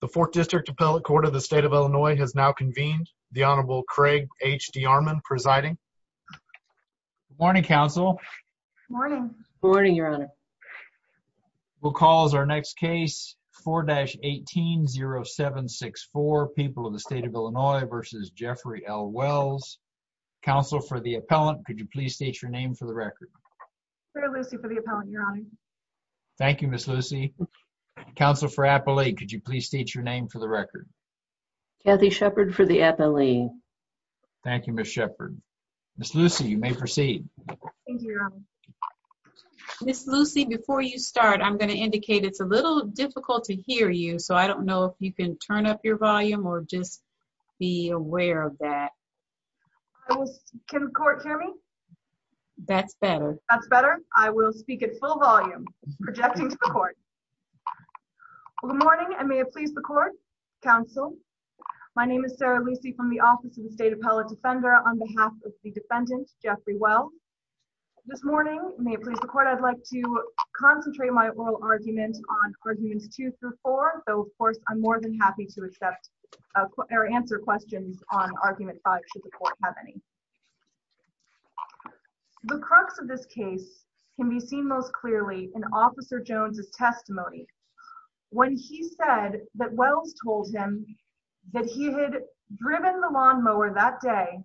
The Fourth District Appellate Court of the State of Illinois has now convened. The Honorable Craig H. D. Armon presiding. Good morning, counsel. Morning. Morning, your honor. We'll call as our next case 4-18-0764, People of the State of Illinois v. Jeffrey L. Wells. Counsel for the appellant, could you please state your name for the record? Clare Lucy for the appellant, your honor. Thank you, Ms. Lucy. Counsel for appellate, could you please state your name for the record? Kathy Shepard for the appellate. Thank you, Ms. Shepard. Ms. Lucy, you may proceed. Thank you, your honor. Ms. Lucy, before you start, I'm going to indicate it's a little difficult to hear you, so I don't know if you can turn up your volume or just be aware of that. Can the court hear me? That's better. That's better. I will speak at full volume, projecting to the court. Well, good morning, and may it please the court, counsel. My name is Sarah Lucy from the Office of the State Appellate Defender, on behalf of the defendant, Jeffrey Wells. This morning, may it please the court, I'd like to concentrate my oral argument on arguments 2 through 4, though, of course, I'm more than happy to accept or answer questions on argument 5, should the court have any. The crux of this case can be seen most clearly in Officer Jones's testimony, when he said that Wells told him that he had driven the lawnmower that day,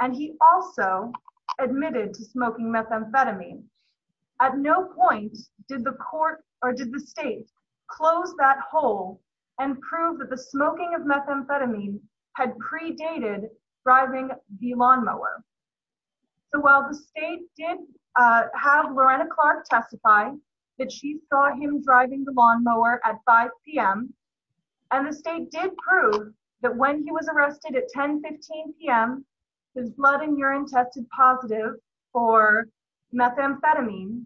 and he also admitted to smoking methamphetamine. At no point did the court, or did the state, close that hole and prove that the smoking of methamphetamine had predated driving the lawnmower. So while the state did have Lorena Clark testify that she saw him driving the lawnmower at 5 p.m., and the state did prove that when he was arrested at 10.15 p.m., his blood and urine tested positive for methamphetamine,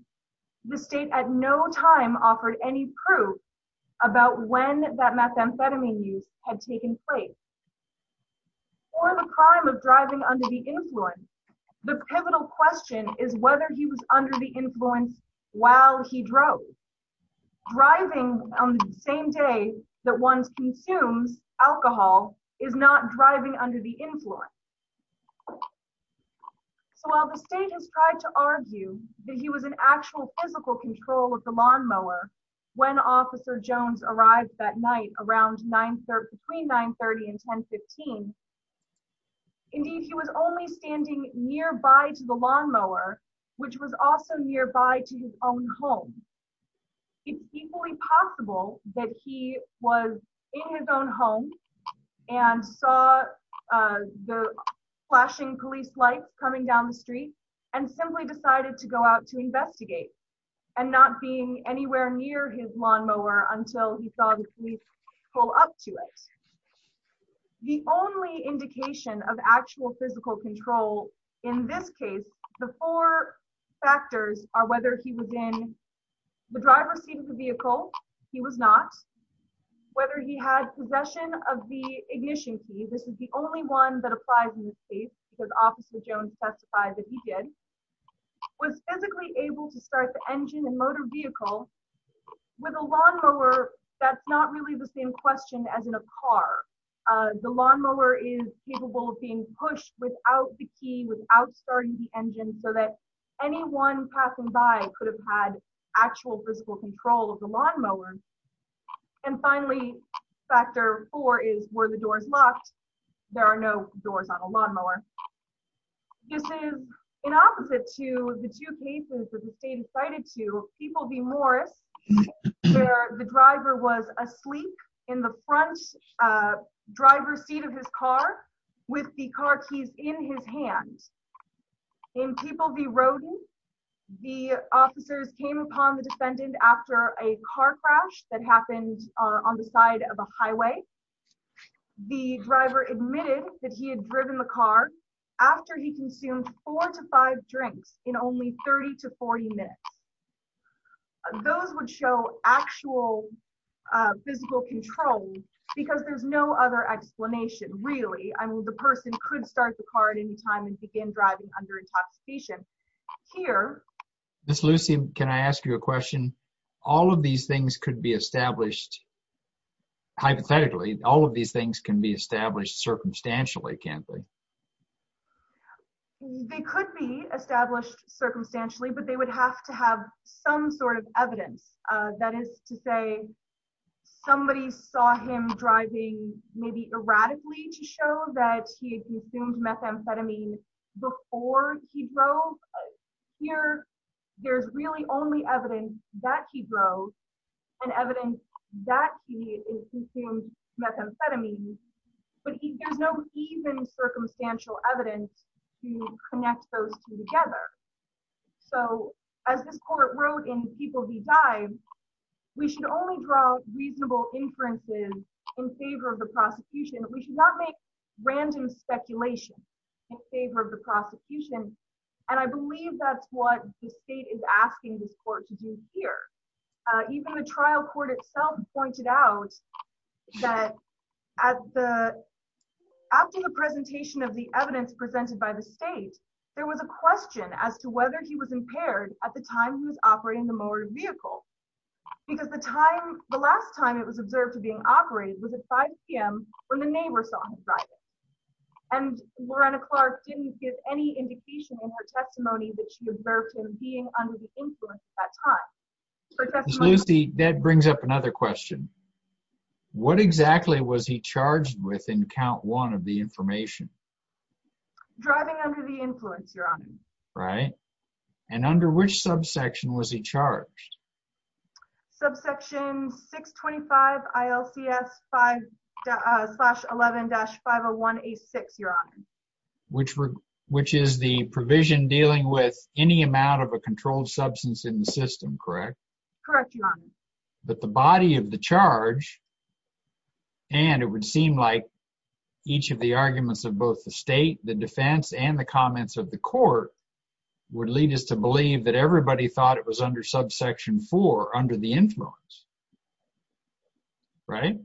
the state at no time offered any proof about when that methamphetamine use had taken place. For the crime of driving under the influence, the pivotal question is whether he was under the influence while he drove. Driving on the same day that one consumes alcohol is not driving under the influence. So while the state has tried to argue that he was in actual physical control of the lawnmower when Officer Jones arrived that night between 9.30 and 10.15, indeed he was only standing nearby to the lawnmower, which was also nearby to his own home. It's equally possible that he was in his own home and saw the flashing police lights coming down the street and simply decided to go out to investigate, and not being anywhere near his lawnmower until he saw the police pull up to it. The only indication of actual physical control in this case, the four factors are whether he was in the driver's seat of the vehicle, he was not, whether he had possession of the ignition key, this is the only one that applies in this case because Officer Jones testified that he did, was physically able to start the engine and motor vehicle with a lawnmower, that's not really the same question as in a car. The lawnmower is capable of being pushed without the key, without starting the engine, so that anyone passing by could have had actual physical control of the lawnmower. And finally, factor four is were the doors locked, there are no doors on a lawnmower. This is in opposite to the two cases that the state cited to People v. Morris, where the driver was asleep in the front driver's seat of his car with the car keys in his hand. In People v. Roden, the officers came upon the defendant after a car crash that happened on the side of a highway. The driver admitted that he had driven the car after he consumed four to five drinks in only 30 to 40 minutes. Those would show actual physical control because there's no other explanation really, I mean the person could start the car at any time and begin driving under intoxication. Here... Miss Lucy, can I ask you a question? All of these things could be established, hypothetically, all of these things can be established circumstantially, can't they? They could be established circumstantially, but they would have to have some sort of evidence. That is to say, somebody saw him driving maybe erratically to show that he had consumed methamphetamine before he drove. Here, there's really only evidence that he drove and evidence that he consumed methamphetamine, but there's no even circumstantial evidence to connect those two together. So, as this court wrote in People v. Dive, we should only draw reasonable inferences in favor of the prosecution. We should not make random speculation in favor of the prosecution, and I believe that's what the state is asking this court to do here. Even the trial court itself pointed out that after the presentation of the evidence presented by the state, there was a question as to whether he was impaired at the time he was operating the motor vehicle, because the last time it was observed to being operated was at 5 p.m. when the neighbor saw him driving, and Lorena Clark didn't give any influence at that time. Lucy, that brings up another question. What exactly was he charged with in Count 1 of the information? Driving under the influence, Your Honor. Right. And under which subsection was he charged? Subsection 625 ILCS 5-11-501A6, Your Honor. Which is the provision dealing with any amount of a controlled substance in the system, correct? Correct, Your Honor. But the body of the charge, and it would seem like each of the arguments of both the state, the defense, and the comments of the court would lead us to believe that everybody thought it was under subsection 4, under the influence, right?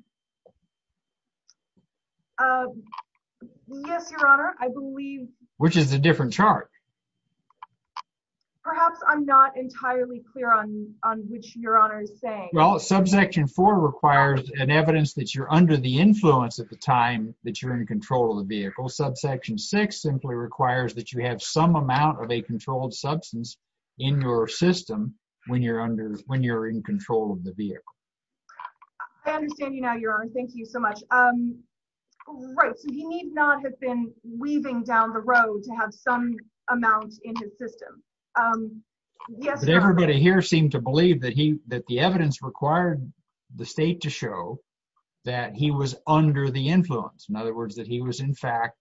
Yes, Your Honor. I believe... Which is a different charge? Perhaps I'm not entirely clear on which Your Honor is saying. Well, subsection 4 requires an evidence that you're under the influence at the time that you're in control of the vehicle. Subsection 6 simply requires that you have some amount of a controlled substance in your system when you're in control of the vehicle. I understand you now, Your Honor. Thank you so much. Right. So he need not have been weaving down the road to have some amount in his system. But everybody here seemed to believe that the evidence required the state to show that he was under the influence. In other words, that he was, in fact,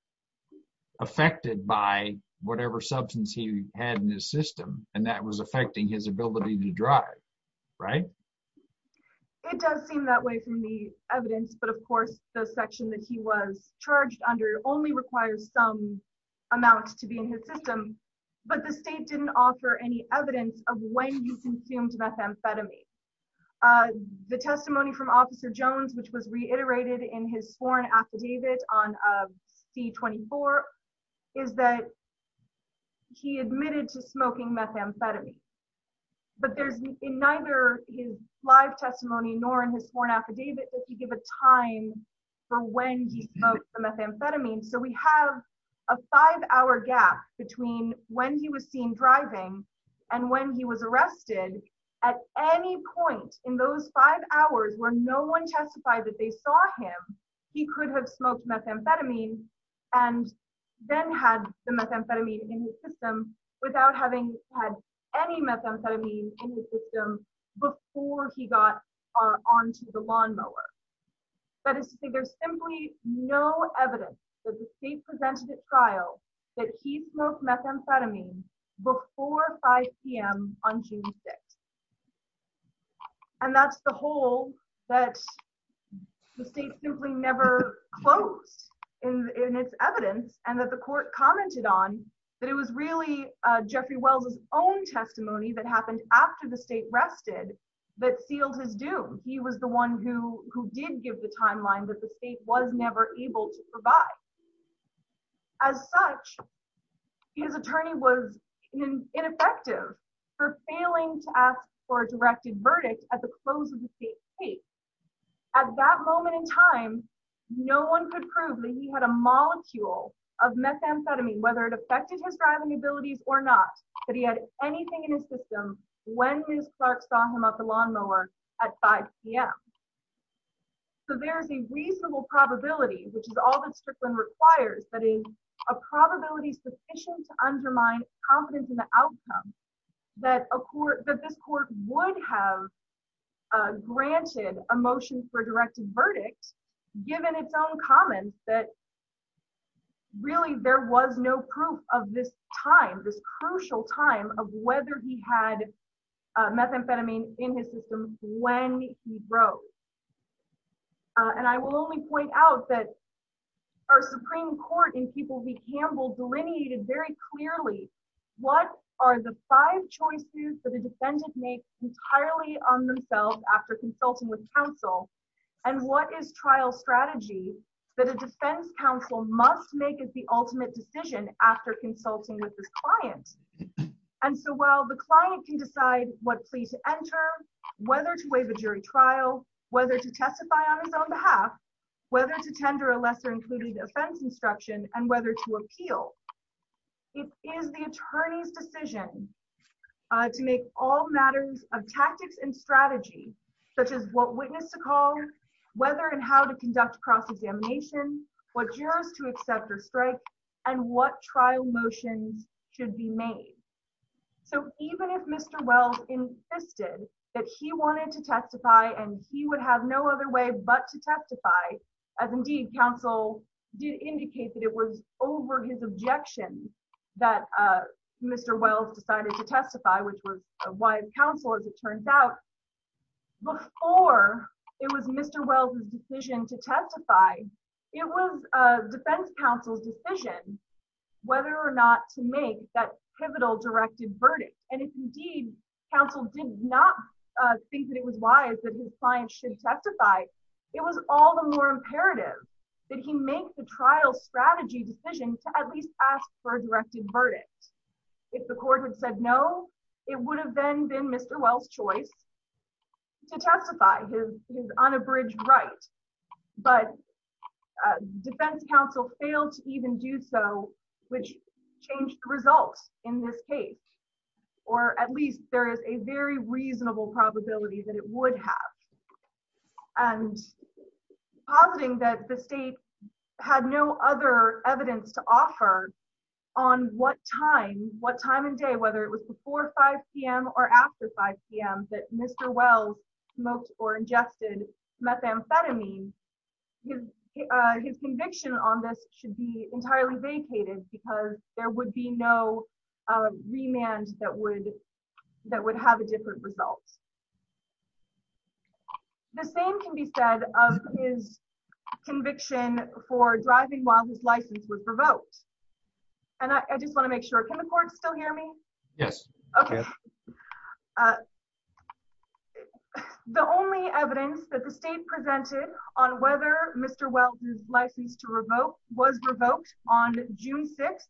affected by whatever substance he had in his system, and that was affecting his ability to drive, right? It does seem that way from the evidence. But of course, the section that he was charged under only requires some amount to be in his system. But the state didn't offer any evidence of when he consumed methamphetamine. The testimony from Officer Jones, which was reiterated in his sworn affidavit on C-24, is that he admitted to smoking methamphetamine. But in neither his live testimony nor in his sworn affidavit did he give a time for when he smoked the methamphetamine. So we have a five-hour gap between when he was seen driving and when he was arrested. At any point in those five hours where no one testified that they saw him, he could have smoked methamphetamine and then had the methamphetamine in his system without having had any methamphetamine in his system before he got onto the lawnmower. That is to say, there's simply no evidence that the state presented at trial that he smoked methamphetamine before 5 p.m. on June 6th. And that's the hole that the state simply never closed in its evidence and that the court commented on, that it was really Jeffrey Wells' own testimony that happened after the state rested that sealed his doom. He was the one who did give the timeline that the state was never able to provide. As such, his attorney was ineffective for failing to ask for a directed verdict at the close of the state's case. At that moment in time, no one could prove that he had a molecule of methamphetamine, whether it affected his driving abilities or not, that he had anything in his system when Ms. Clark saw him at the lawnmower at 5 p.m. So there's a reasonable probability, which is all that Strickland requires, that is a probability sufficient to undermine confidence in the outcome that this court would have granted a motion for a directed verdict, given its own comments that really there was no proof of this time, this crucial time, of whether he had methamphetamine in his system when he drove. And I will only point out that our Supreme Court in People v. Campbell delineated very clearly what are the five choices that a defense counsel must make as the ultimate decision after consulting with this client. And so while the client can decide what plea to enter, whether to waive a jury trial, whether to testify on his own behalf, whether to tender a lesser-included offense instruction, and whether to appeal, it is the attorney's decision to make all matters of tactics and to conduct cross-examination, what jurors to accept or strike, and what trial motions should be made. So even if Mr. Wells insisted that he wanted to testify and he would have no other way but to testify, as indeed counsel did indicate that it was over his objection that Mr. Wells decided to testify, which was why counsel, as it turns out, before it was Mr. Wells' decision to testify, it was defense counsel's decision whether or not to make that pivotal directed verdict. And if indeed counsel did not think that it was wise that his client should testify, it was all the more imperative that he make the trial strategy decision to at least ask for a directed verdict. If the court had said no, it would have then been Mr. Wells' choice to testify, his unabridged right. But defense counsel failed to even do so, which changed the results in this case, or at least there is a very reasonable probability that it would have. And positing that the state had no other evidence to offer on what time, whether it was before 5 p.m. or after 5 p.m. that Mr. Wells smoked or ingested methamphetamine, his conviction on this should be entirely vacated because there would be no remand that would have a different result. The same can be said of his conviction for driving while his license was revoked. And I just want to make sure, can the court still hear me? Yes. Okay. The only evidence that the state presented on whether Mr. Wells' license to revoke was revoked on June 6th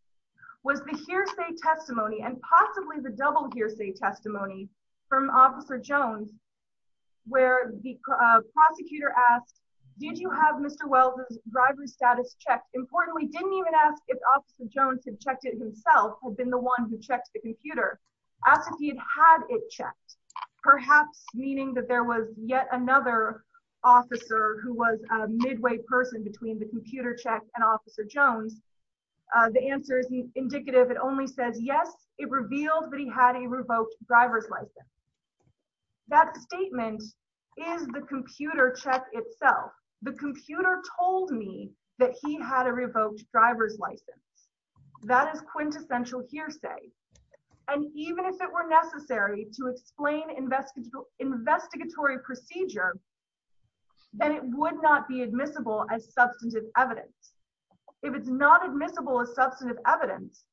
was the hearsay testimony and possibly the double hearsay testimony from Officer Jones where the prosecutor asked, did you have Mr. Wells' driver's status checked? Importantly, didn't even ask if Officer Jones had checked it himself, had been the one who checked the computer. Asked if he had had it checked, perhaps meaning that there was yet another officer who was a midway person between the computer check and Officer Jones. The answer is indicative. It says yes, it revealed that he had a revoked driver's license. That statement is the computer check itself. The computer told me that he had a revoked driver's license. That is quintessential hearsay. And even if it were necessary to explain investigatory procedure, then it would not be admissible as substantive evidence. If it's not admissible as substantive evidence,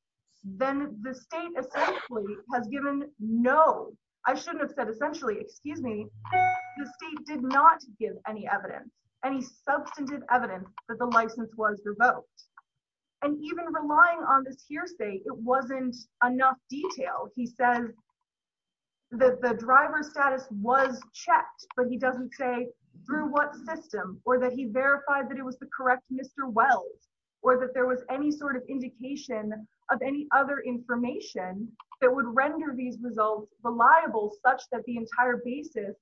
then the state essentially has given no, I shouldn't have said essentially, excuse me, the state did not give any evidence, any substantive evidence that the license was revoked. And even relying on this hearsay, it wasn't enough detail. He said that the driver's status was checked, but he doesn't say through what system or that he verified that it was the correct Mr. Wells, or that there was any sort of indication of any other information that would render these results reliable such that the entire basis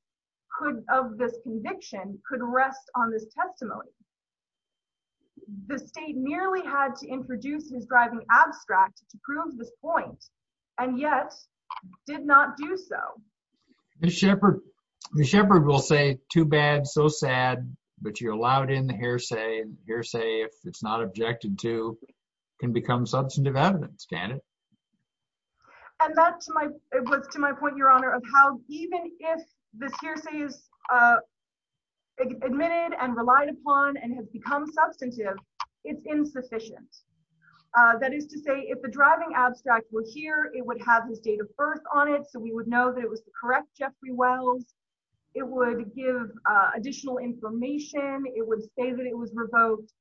could, of this conviction, could rest on this testimony. The state nearly had to introduce his driving abstract to prove this point, and yet did not do so. The shepherd will say too bad, so sad, but you're allowed in the hearsay. Hearsay, if it's not objected to, can become substantive evidence, can it? And that's my, it was to my point, Your Honor, of how even if this hearsay is admitted and relied upon and has become substantive, it's insufficient. That is to say, if the driving abstract was here, it would have his date of birth on it, so we would know that it was the correct Jeffrey Wells. It would give additional information. It would say that it was revoked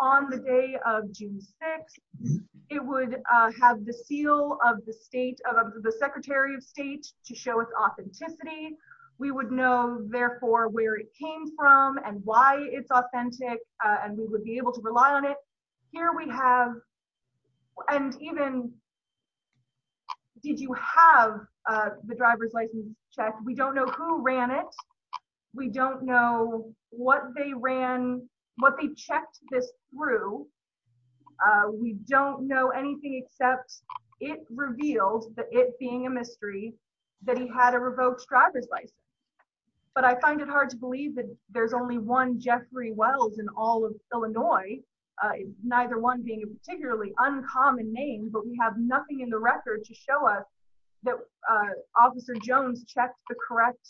on the day of June 6. It would have the seal of the state, of the Secretary of State, to show its authenticity. We would know, therefore, where it came from and why it's authentic, and we would be able to rely on it. Here we have, and even, did you have the driver's license check? We don't know who ran it. We don't know what they ran, what they checked this through. We don't know anything except it revealed, the it being a mystery, that he had a revoked driver's license, but I find it hard to believe that there's only one Jeffrey Wells in all of Illinois, neither one being a particularly uncommon name, but we have nothing in the record to show us that Officer Jones checked the correct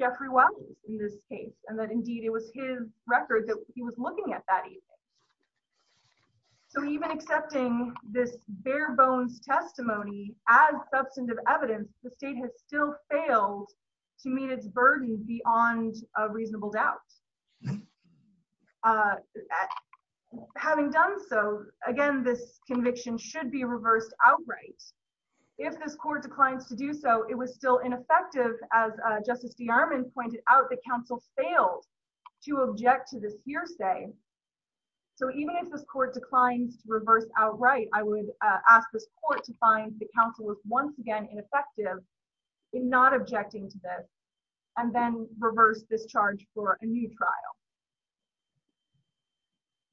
Jeffrey Wells in this case, and that indeed it was his record that he was looking at that evening. So even accepting this bare bones testimony as substantive evidence, the state has still failed to meet its burden beyond a reasonable doubt. Having done so, again, this conviction should be reversed outright. If this court declines to do so, it was still ineffective. As Justice D. Armand pointed out, the counsel failed to object to this hearsay. So even if this court declines to reverse outright, I would ask this court to find the counsel was once again ineffective in not objecting to this, and then reverse this charge for a new trial.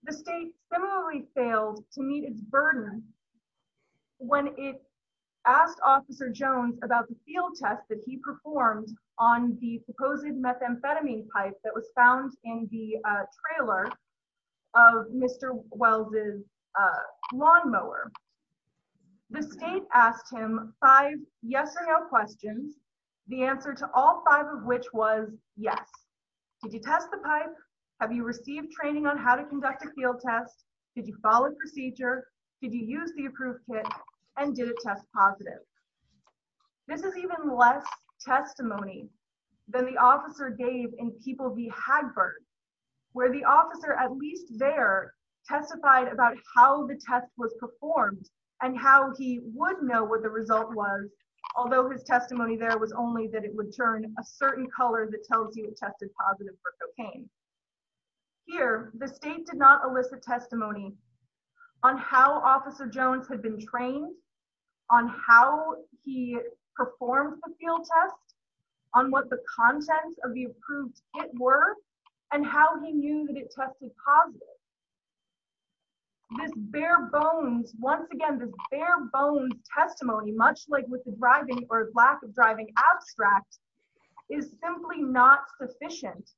The state similarly failed to meet its burden when it asked Officer Jones about the field test that he performed on the supposed methamphetamine pipe that was found in the trailer of Mr. Wells's lawnmower. The state asked him five yes or no questions, the answer to all five of which was yes. Did you test the pipe? Have you received training on how to conduct a field test? Did you follow procedure? Did you use the approved kit? And did it test positive? This is even less fair. The state did not elicit testimony on how Officer Jones had been trained, on how he performed the field test, on what the contents of the approved kit were, and how he knew that it tested positive. This bare bones, once again, this bare bones testimony, much like with the driving or lack of driving abstract, is simply not sufficient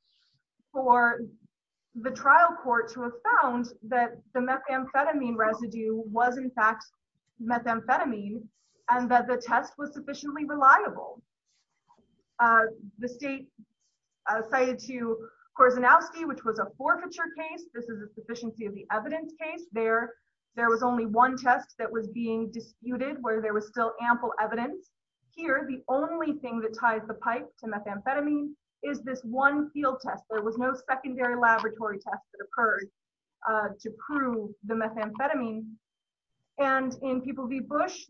for the trial court to have found that the methamphetamine residue was in fact methamphetamine, and that the test was sufficiently reliable. The state cited to Korzenowski, which was a forfeiture case. This is a sufficiency of the evidence case. There was only one test that was being disputed where there was still ample evidence. Here, the only thing that ties the pipe to methamphetamine is this one field test. There was no secondary laboratory test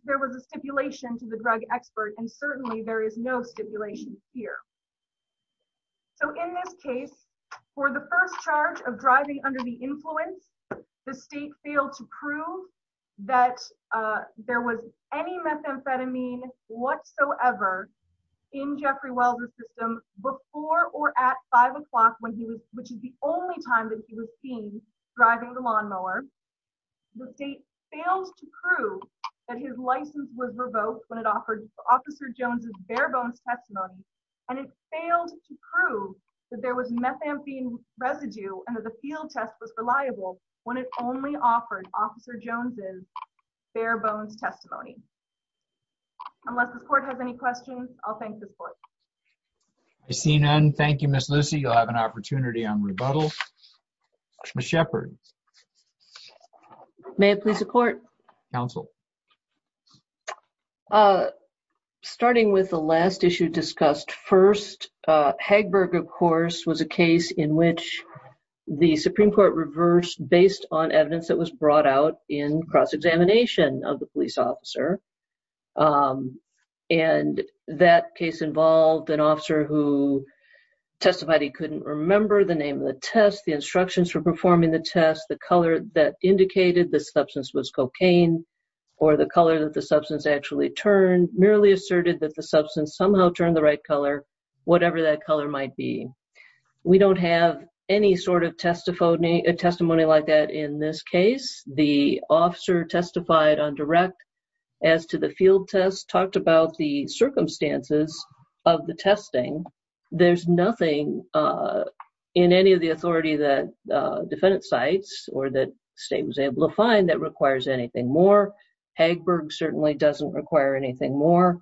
that was a stipulation to the drug expert, and certainly there is no stipulation here. So, in this case, for the first charge of driving under the influence, the state failed to prove that there was any methamphetamine whatsoever in Jeffrey Welder's system before or at five o'clock, which is the only time that he was seen driving the lawnmower. The state failed to prove that his license was revoked when it offered Officer Jones's bare bones testimony, and it failed to prove that there was methamphetamine residue and that the field test was reliable when it only offered Officer Jones's bare bones testimony. Unless this court has any questions, I'll thank this court. I see none. Thank you, Ms. Lucy. You'll have an opportunity on rebuttal. Ms. Shepard. May I please support? Counsel. Starting with the last issue discussed first, Hagberg, of course, was a case in which the Supreme Court reversed based on evidence that was brought out in cross-examination of the police for performing the test. The color that indicated the substance was cocaine or the color that the substance actually turned merely asserted that the substance somehow turned the right color, whatever that color might be. We don't have any sort of testimony like that in this case. The officer testified on direct as to the field test, talked about the circumstances of the defendant's sites or that the state was able to find that requires anything more. Hagberg certainly doesn't require anything more.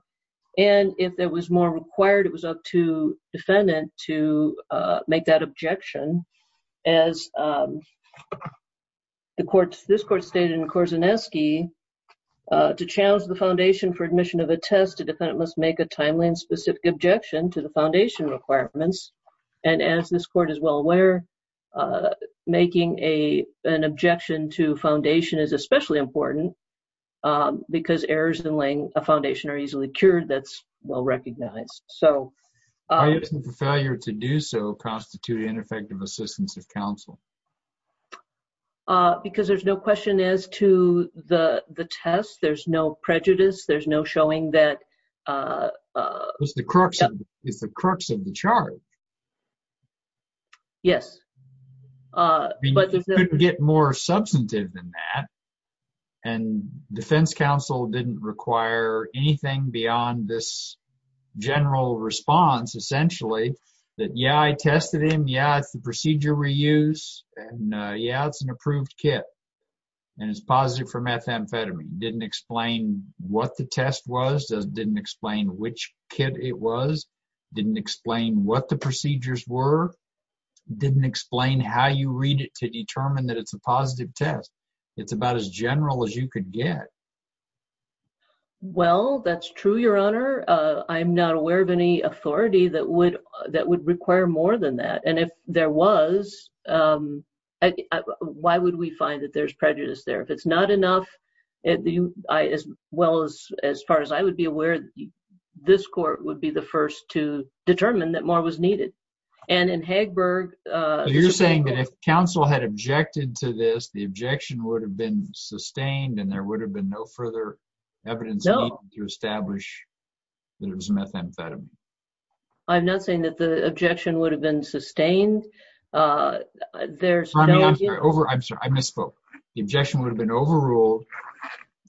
If there was more required, it was up to defendant to make that objection. As this court stated in Korzanewski, to challenge the foundation for admission of a test, a defendant must make a timely and specific objection to the foundation requirements. As this court is well aware, making an objection to foundation is especially important because errors in laying a foundation are easily cured. That's well recognized. Why isn't the failure to do so constitute ineffective assistance of counsel? Because there's no question as to the test. There's no prejudice. There's no showing that... It's the crux of the charge. Yes. You couldn't get more substantive than that. Defense counsel didn't require anything beyond this general response, essentially, that, yeah, I tested him. Yeah, it's the procedure we use. Yeah, it's an approved kit. And it's positive for methamphetamine. Didn't explain what the test was. Didn't explain which kit it was. Didn't explain what the procedures were. Didn't explain how you read it to determine that it's a positive test. It's about as general as you could get. Well, that's true, Your Honor. I'm not aware of any authority that would require more than that. And if there was, why would we find that there's prejudice there? If it's not enough, as far as I would be aware, this court would be the first to determine that more was needed. And in Hagberg- You're saying that if counsel had objected to this, the objection would have been sustained and there would have been no further evidence needed to establish that it was methamphetamine. I'm not saying that the objection would have been sustained. There's no- I'm sorry, I misspoke. The objection would have been overruled,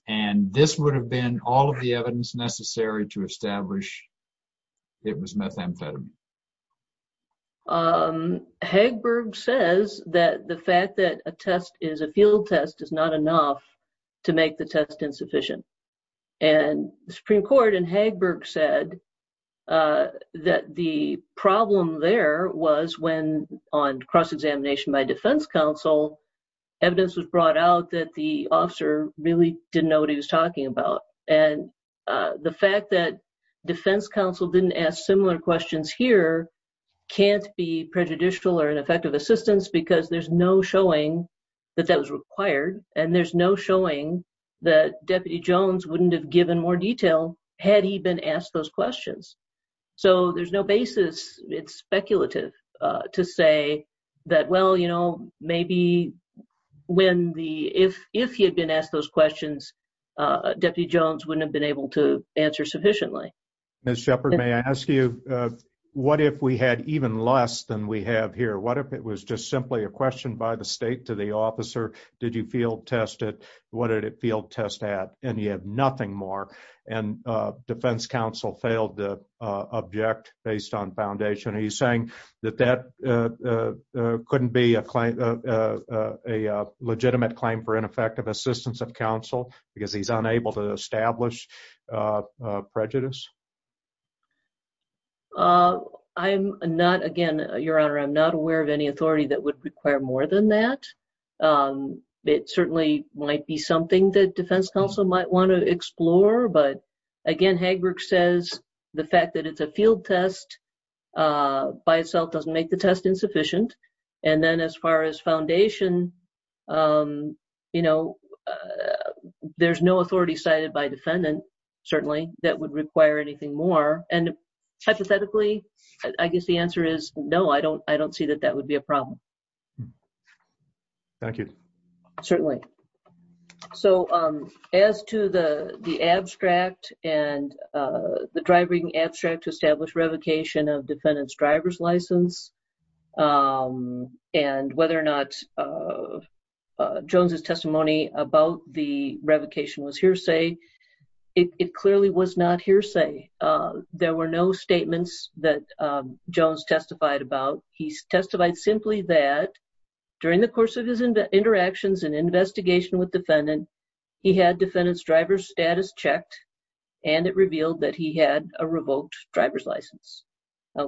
and this would have been all of the evidence necessary to establish it was methamphetamine. Hagberg says that the fact that a test is a field test is not enough to make the test sufficient. And the Supreme Court in Hagberg said that the problem there was when on cross examination by defense counsel, evidence was brought out that the officer really didn't know what he was talking about. And the fact that defense counsel didn't ask similar questions here can't be prejudicial or ineffective assistance because there's no showing that that was Jones wouldn't have given more detail had he been asked those questions. So there's no basis. It's speculative to say that, well, you know, maybe when the- if he had been asked those questions, Deputy Jones wouldn't have been able to answer sufficiently. Ms. Shepard, may I ask you, what if we had even less than we have here? What if it was just and you have nothing more and defense counsel failed to object based on foundation? Are you saying that that couldn't be a legitimate claim for ineffective assistance of counsel because he's unable to establish prejudice? I'm not, again, Your Honor, I'm not aware of any authority that would require more than that. It certainly might be something that defense counsel might want to explore. But again, Hagbrook says the fact that it's a field test by itself doesn't make the test insufficient. And then as far as foundation, you know, there's no authority cited by defendant, certainly, that would require anything more. And hypothetically, I guess the answer is no, I don't see that that would be a problem. Thank you. Certainly. So as to the abstract and the driving abstract to establish revocation of defendant's driver's license, and whether or not Jones's testimony about the revocation was hearsay, it clearly was not hearsay. There were no statements that Jones testified about. He testified simply that during the course of his interactions and investigation with defendant, he had defendant's driver's status checked, and it revealed that he had a revoked driver's license.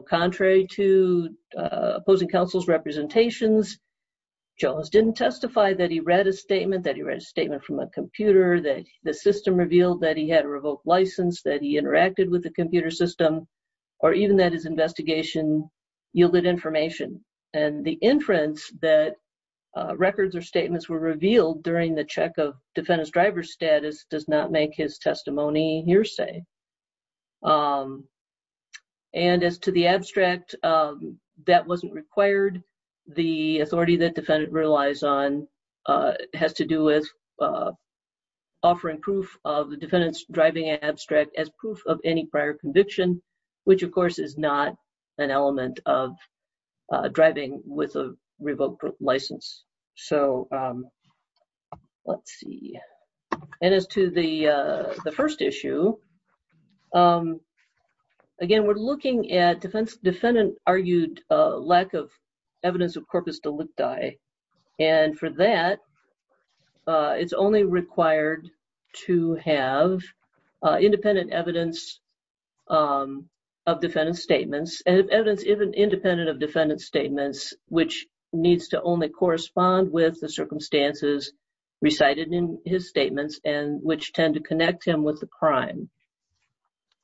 Contrary to opposing counsel's representations, Jones didn't testify that he read a statement, that he read a statement from a computer, that the system revealed that he had a revoked license, that he interacted with the computer system, or even that his investigation yielded information. And the inference that records or statements were revealed during the check of defendant's driver's status does not make his testimony hearsay. And as to the abstract, that wasn't required. The authority that defendant relies on has to do with offering proof of the defendant's abstract as proof of any prior conviction, which of course is not an element of driving with a revoked license. So let's see. And as to the first issue, again, we're looking at defendant argued lack of evidence of corpus delicti. And for that, it's only required to have independent evidence of defendant's statements, and evidence even independent of defendant's statements, which needs to only correspond with the circumstances recited in his statements, and which tend to connect him with the crime.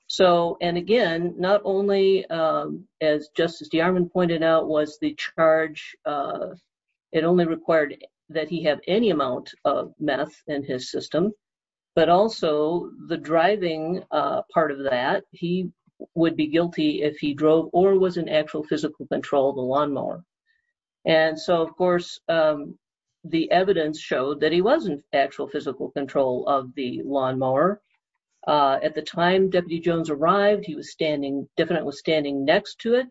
So, and again, not only, as Justice DeArmond pointed out, was the charge, it only required that he have any amount of meth in his system, but also the driving part of that, he would be guilty if he drove or was in actual physical control of the lawnmower. And so of course, the evidence showed that he was in actual physical control of the lawnmower. At the time Deputy Jones arrived, he was standing, defendant was standing next to it.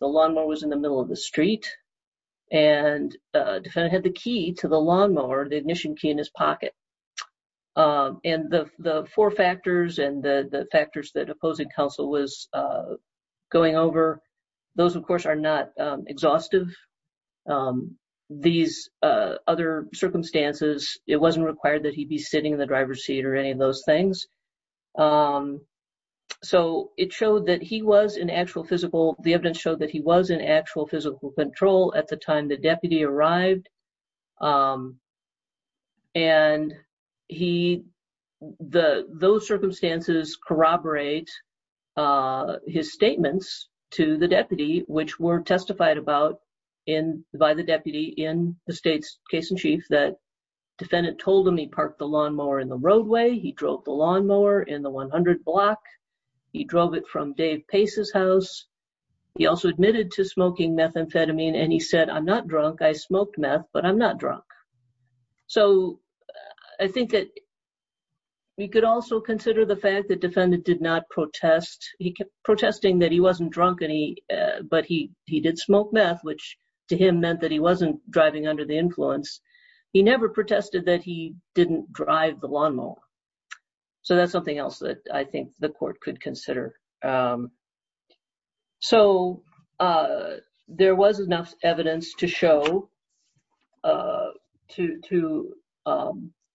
The lawnmower was in the middle of the street. And defendant had the key to the lawnmower, the ignition key in his pocket. And the four factors and the factors that opposing counsel was going over, those, of course, are not exhaustive. These other circumstances, it wasn't required that he'd be sitting in the driver's seat or any of those things. So it showed that he was in actual physical, the evidence showed that he was in actual physical control at the time the deputy arrived. And he, the, those circumstances corroborate his statements to the deputy, which were testified about in, by the deputy in the state's case in chief that defendant told him he parked the lawnmower in the roadway. He drove the lawnmower in the 100 block. He drove it from Dave Pace's house. He also admitted to smoking methamphetamine. And he said, I'm not drunk. I smoked meth, but I'm not drunk. So I think that we could also consider the fact that defendant did not protest. He kept protesting that he wasn't drunk and he, but he, he did smoke meth, which to him meant that he wasn't driving under the influence. He never protested that he didn't drive the lawnmower. So that's something else that I think the court could consider. So there was enough evidence to show, to, to,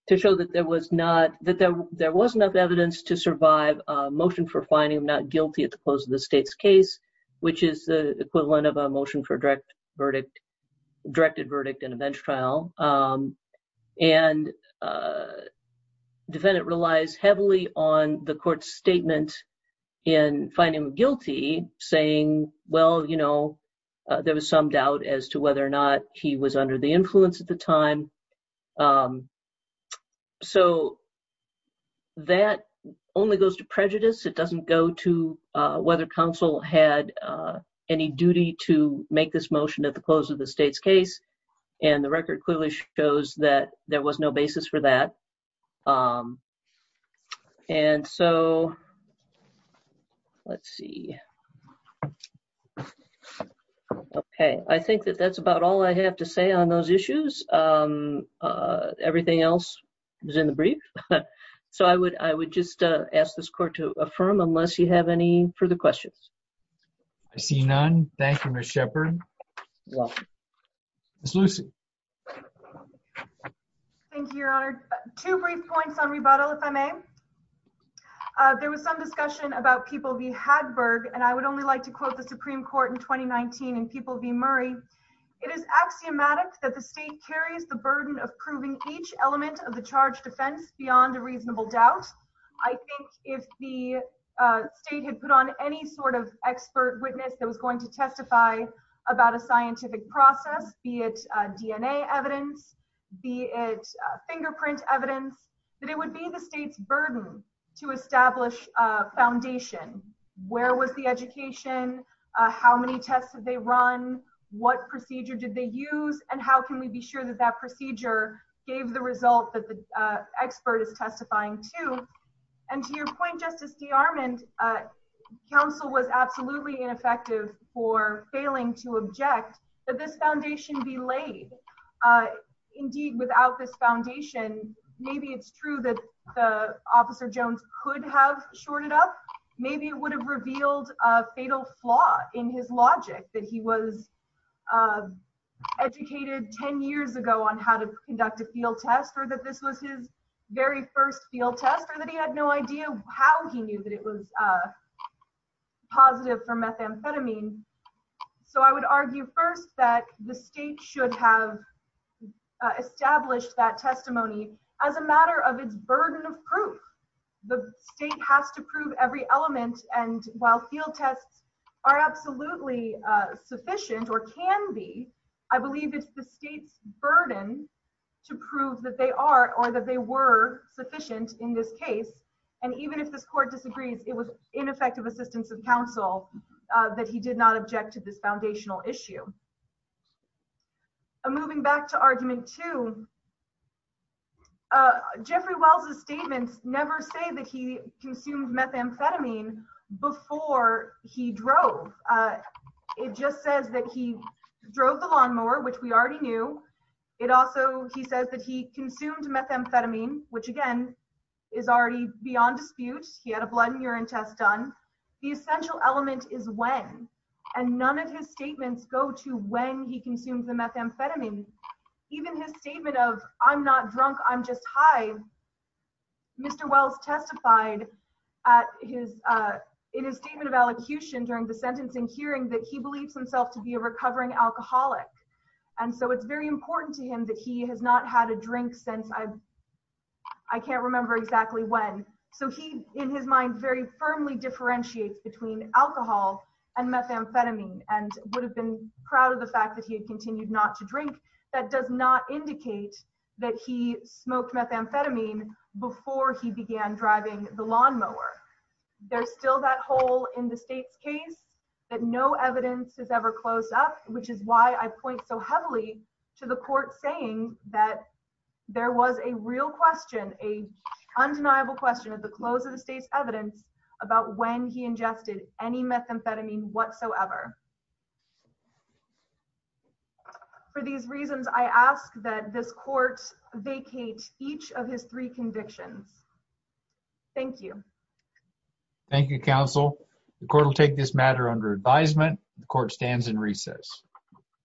to show that there was not, that there, there wasn't enough evidence to survive a motion for finding him not guilty at the close of the state's case, which is the equivalent of a motion for direct verdict, directed verdict in a bench trial. And defendant relies heavily on the court's statement in finding him guilty saying, well, you know, there was some doubt as to whether or not he was under the influence at the time. So that only goes to prejudice. It doesn't go to whether counsel had any duty to make this motion at the close of the state's case. And the record clearly shows that there was no basis for that. And so let's see. Okay. I think that that's about all I have to say on those issues. Everything else was in the brief. So I would, I would just ask this court to I see none. Thank you, Ms. Shepherd. Ms. Lucy. Thank you, Your Honor. Two brief points on rebuttal, if I may. There was some discussion about People v. Hadberg, and I would only like to quote the Supreme Court in 2019 and People v. Murray. It is axiomatic that the state carries the burden of proving each element of the charge defense beyond a reasonable doubt. I think if the state had put on any sort of expert witness that was going to testify about a scientific process, be it DNA evidence, be it fingerprint evidence, that it would be the state's burden to establish foundation. Where was the education? How many tests did they run? What procedure did they use? And how can we be sure that that procedure gave the result that the expert is testifying to? And to your point, Justice DeArmond, counsel was absolutely ineffective for failing to object that this foundation be laid. Indeed, without this foundation, maybe it's true that the Officer Jones could have shorted up. Maybe it would have revealed a fatal flaw in his logic that he was educated 10 years ago on how to conduct a field test or that this was his first field test or that he had no idea how he knew that it was positive for methamphetamine. So I would argue first that the state should have established that testimony as a matter of its burden of proof. The state has to prove every element. And while field tests are absolutely sufficient or can be, I believe it's the state's burden to prove that they are or that they were sufficient in this case. And even if this court disagrees, it was ineffective assistance of counsel that he did not object to this foundational issue. Moving back to argument two, Jeffrey Wells' statements never say that he consumed methamphetamine before he drove. It just says that he drove the lawnmower, which we already knew. It also, he says that he consumed methamphetamine, which again, is already beyond dispute. He had a blood and urine test done. The essential element is when. And none of his statements go to when he consumed the methamphetamine. Even his statement of, I'm not drunk, I'm just high. Mr. Wells testified in his statement of elocution during the sentencing hearing that he believes himself to be a recovering alcoholic. And so it's very important to him that he has not had a drink since, I can't remember exactly when. So he, in his mind, very firmly differentiates between alcohol and methamphetamine and would have been proud of the fact that he had continued not to drink. That does not indicate that he smoked methamphetamine before he began driving the ever closed up, which is why I point so heavily to the court saying that there was a real question, a undeniable question at the close of the state's evidence about when he ingested any methamphetamine whatsoever. For these reasons, I ask that this court vacate each of his three convictions. Thank you. Thank you, counsel. The court will take this matter under advisement. The court stands in recess.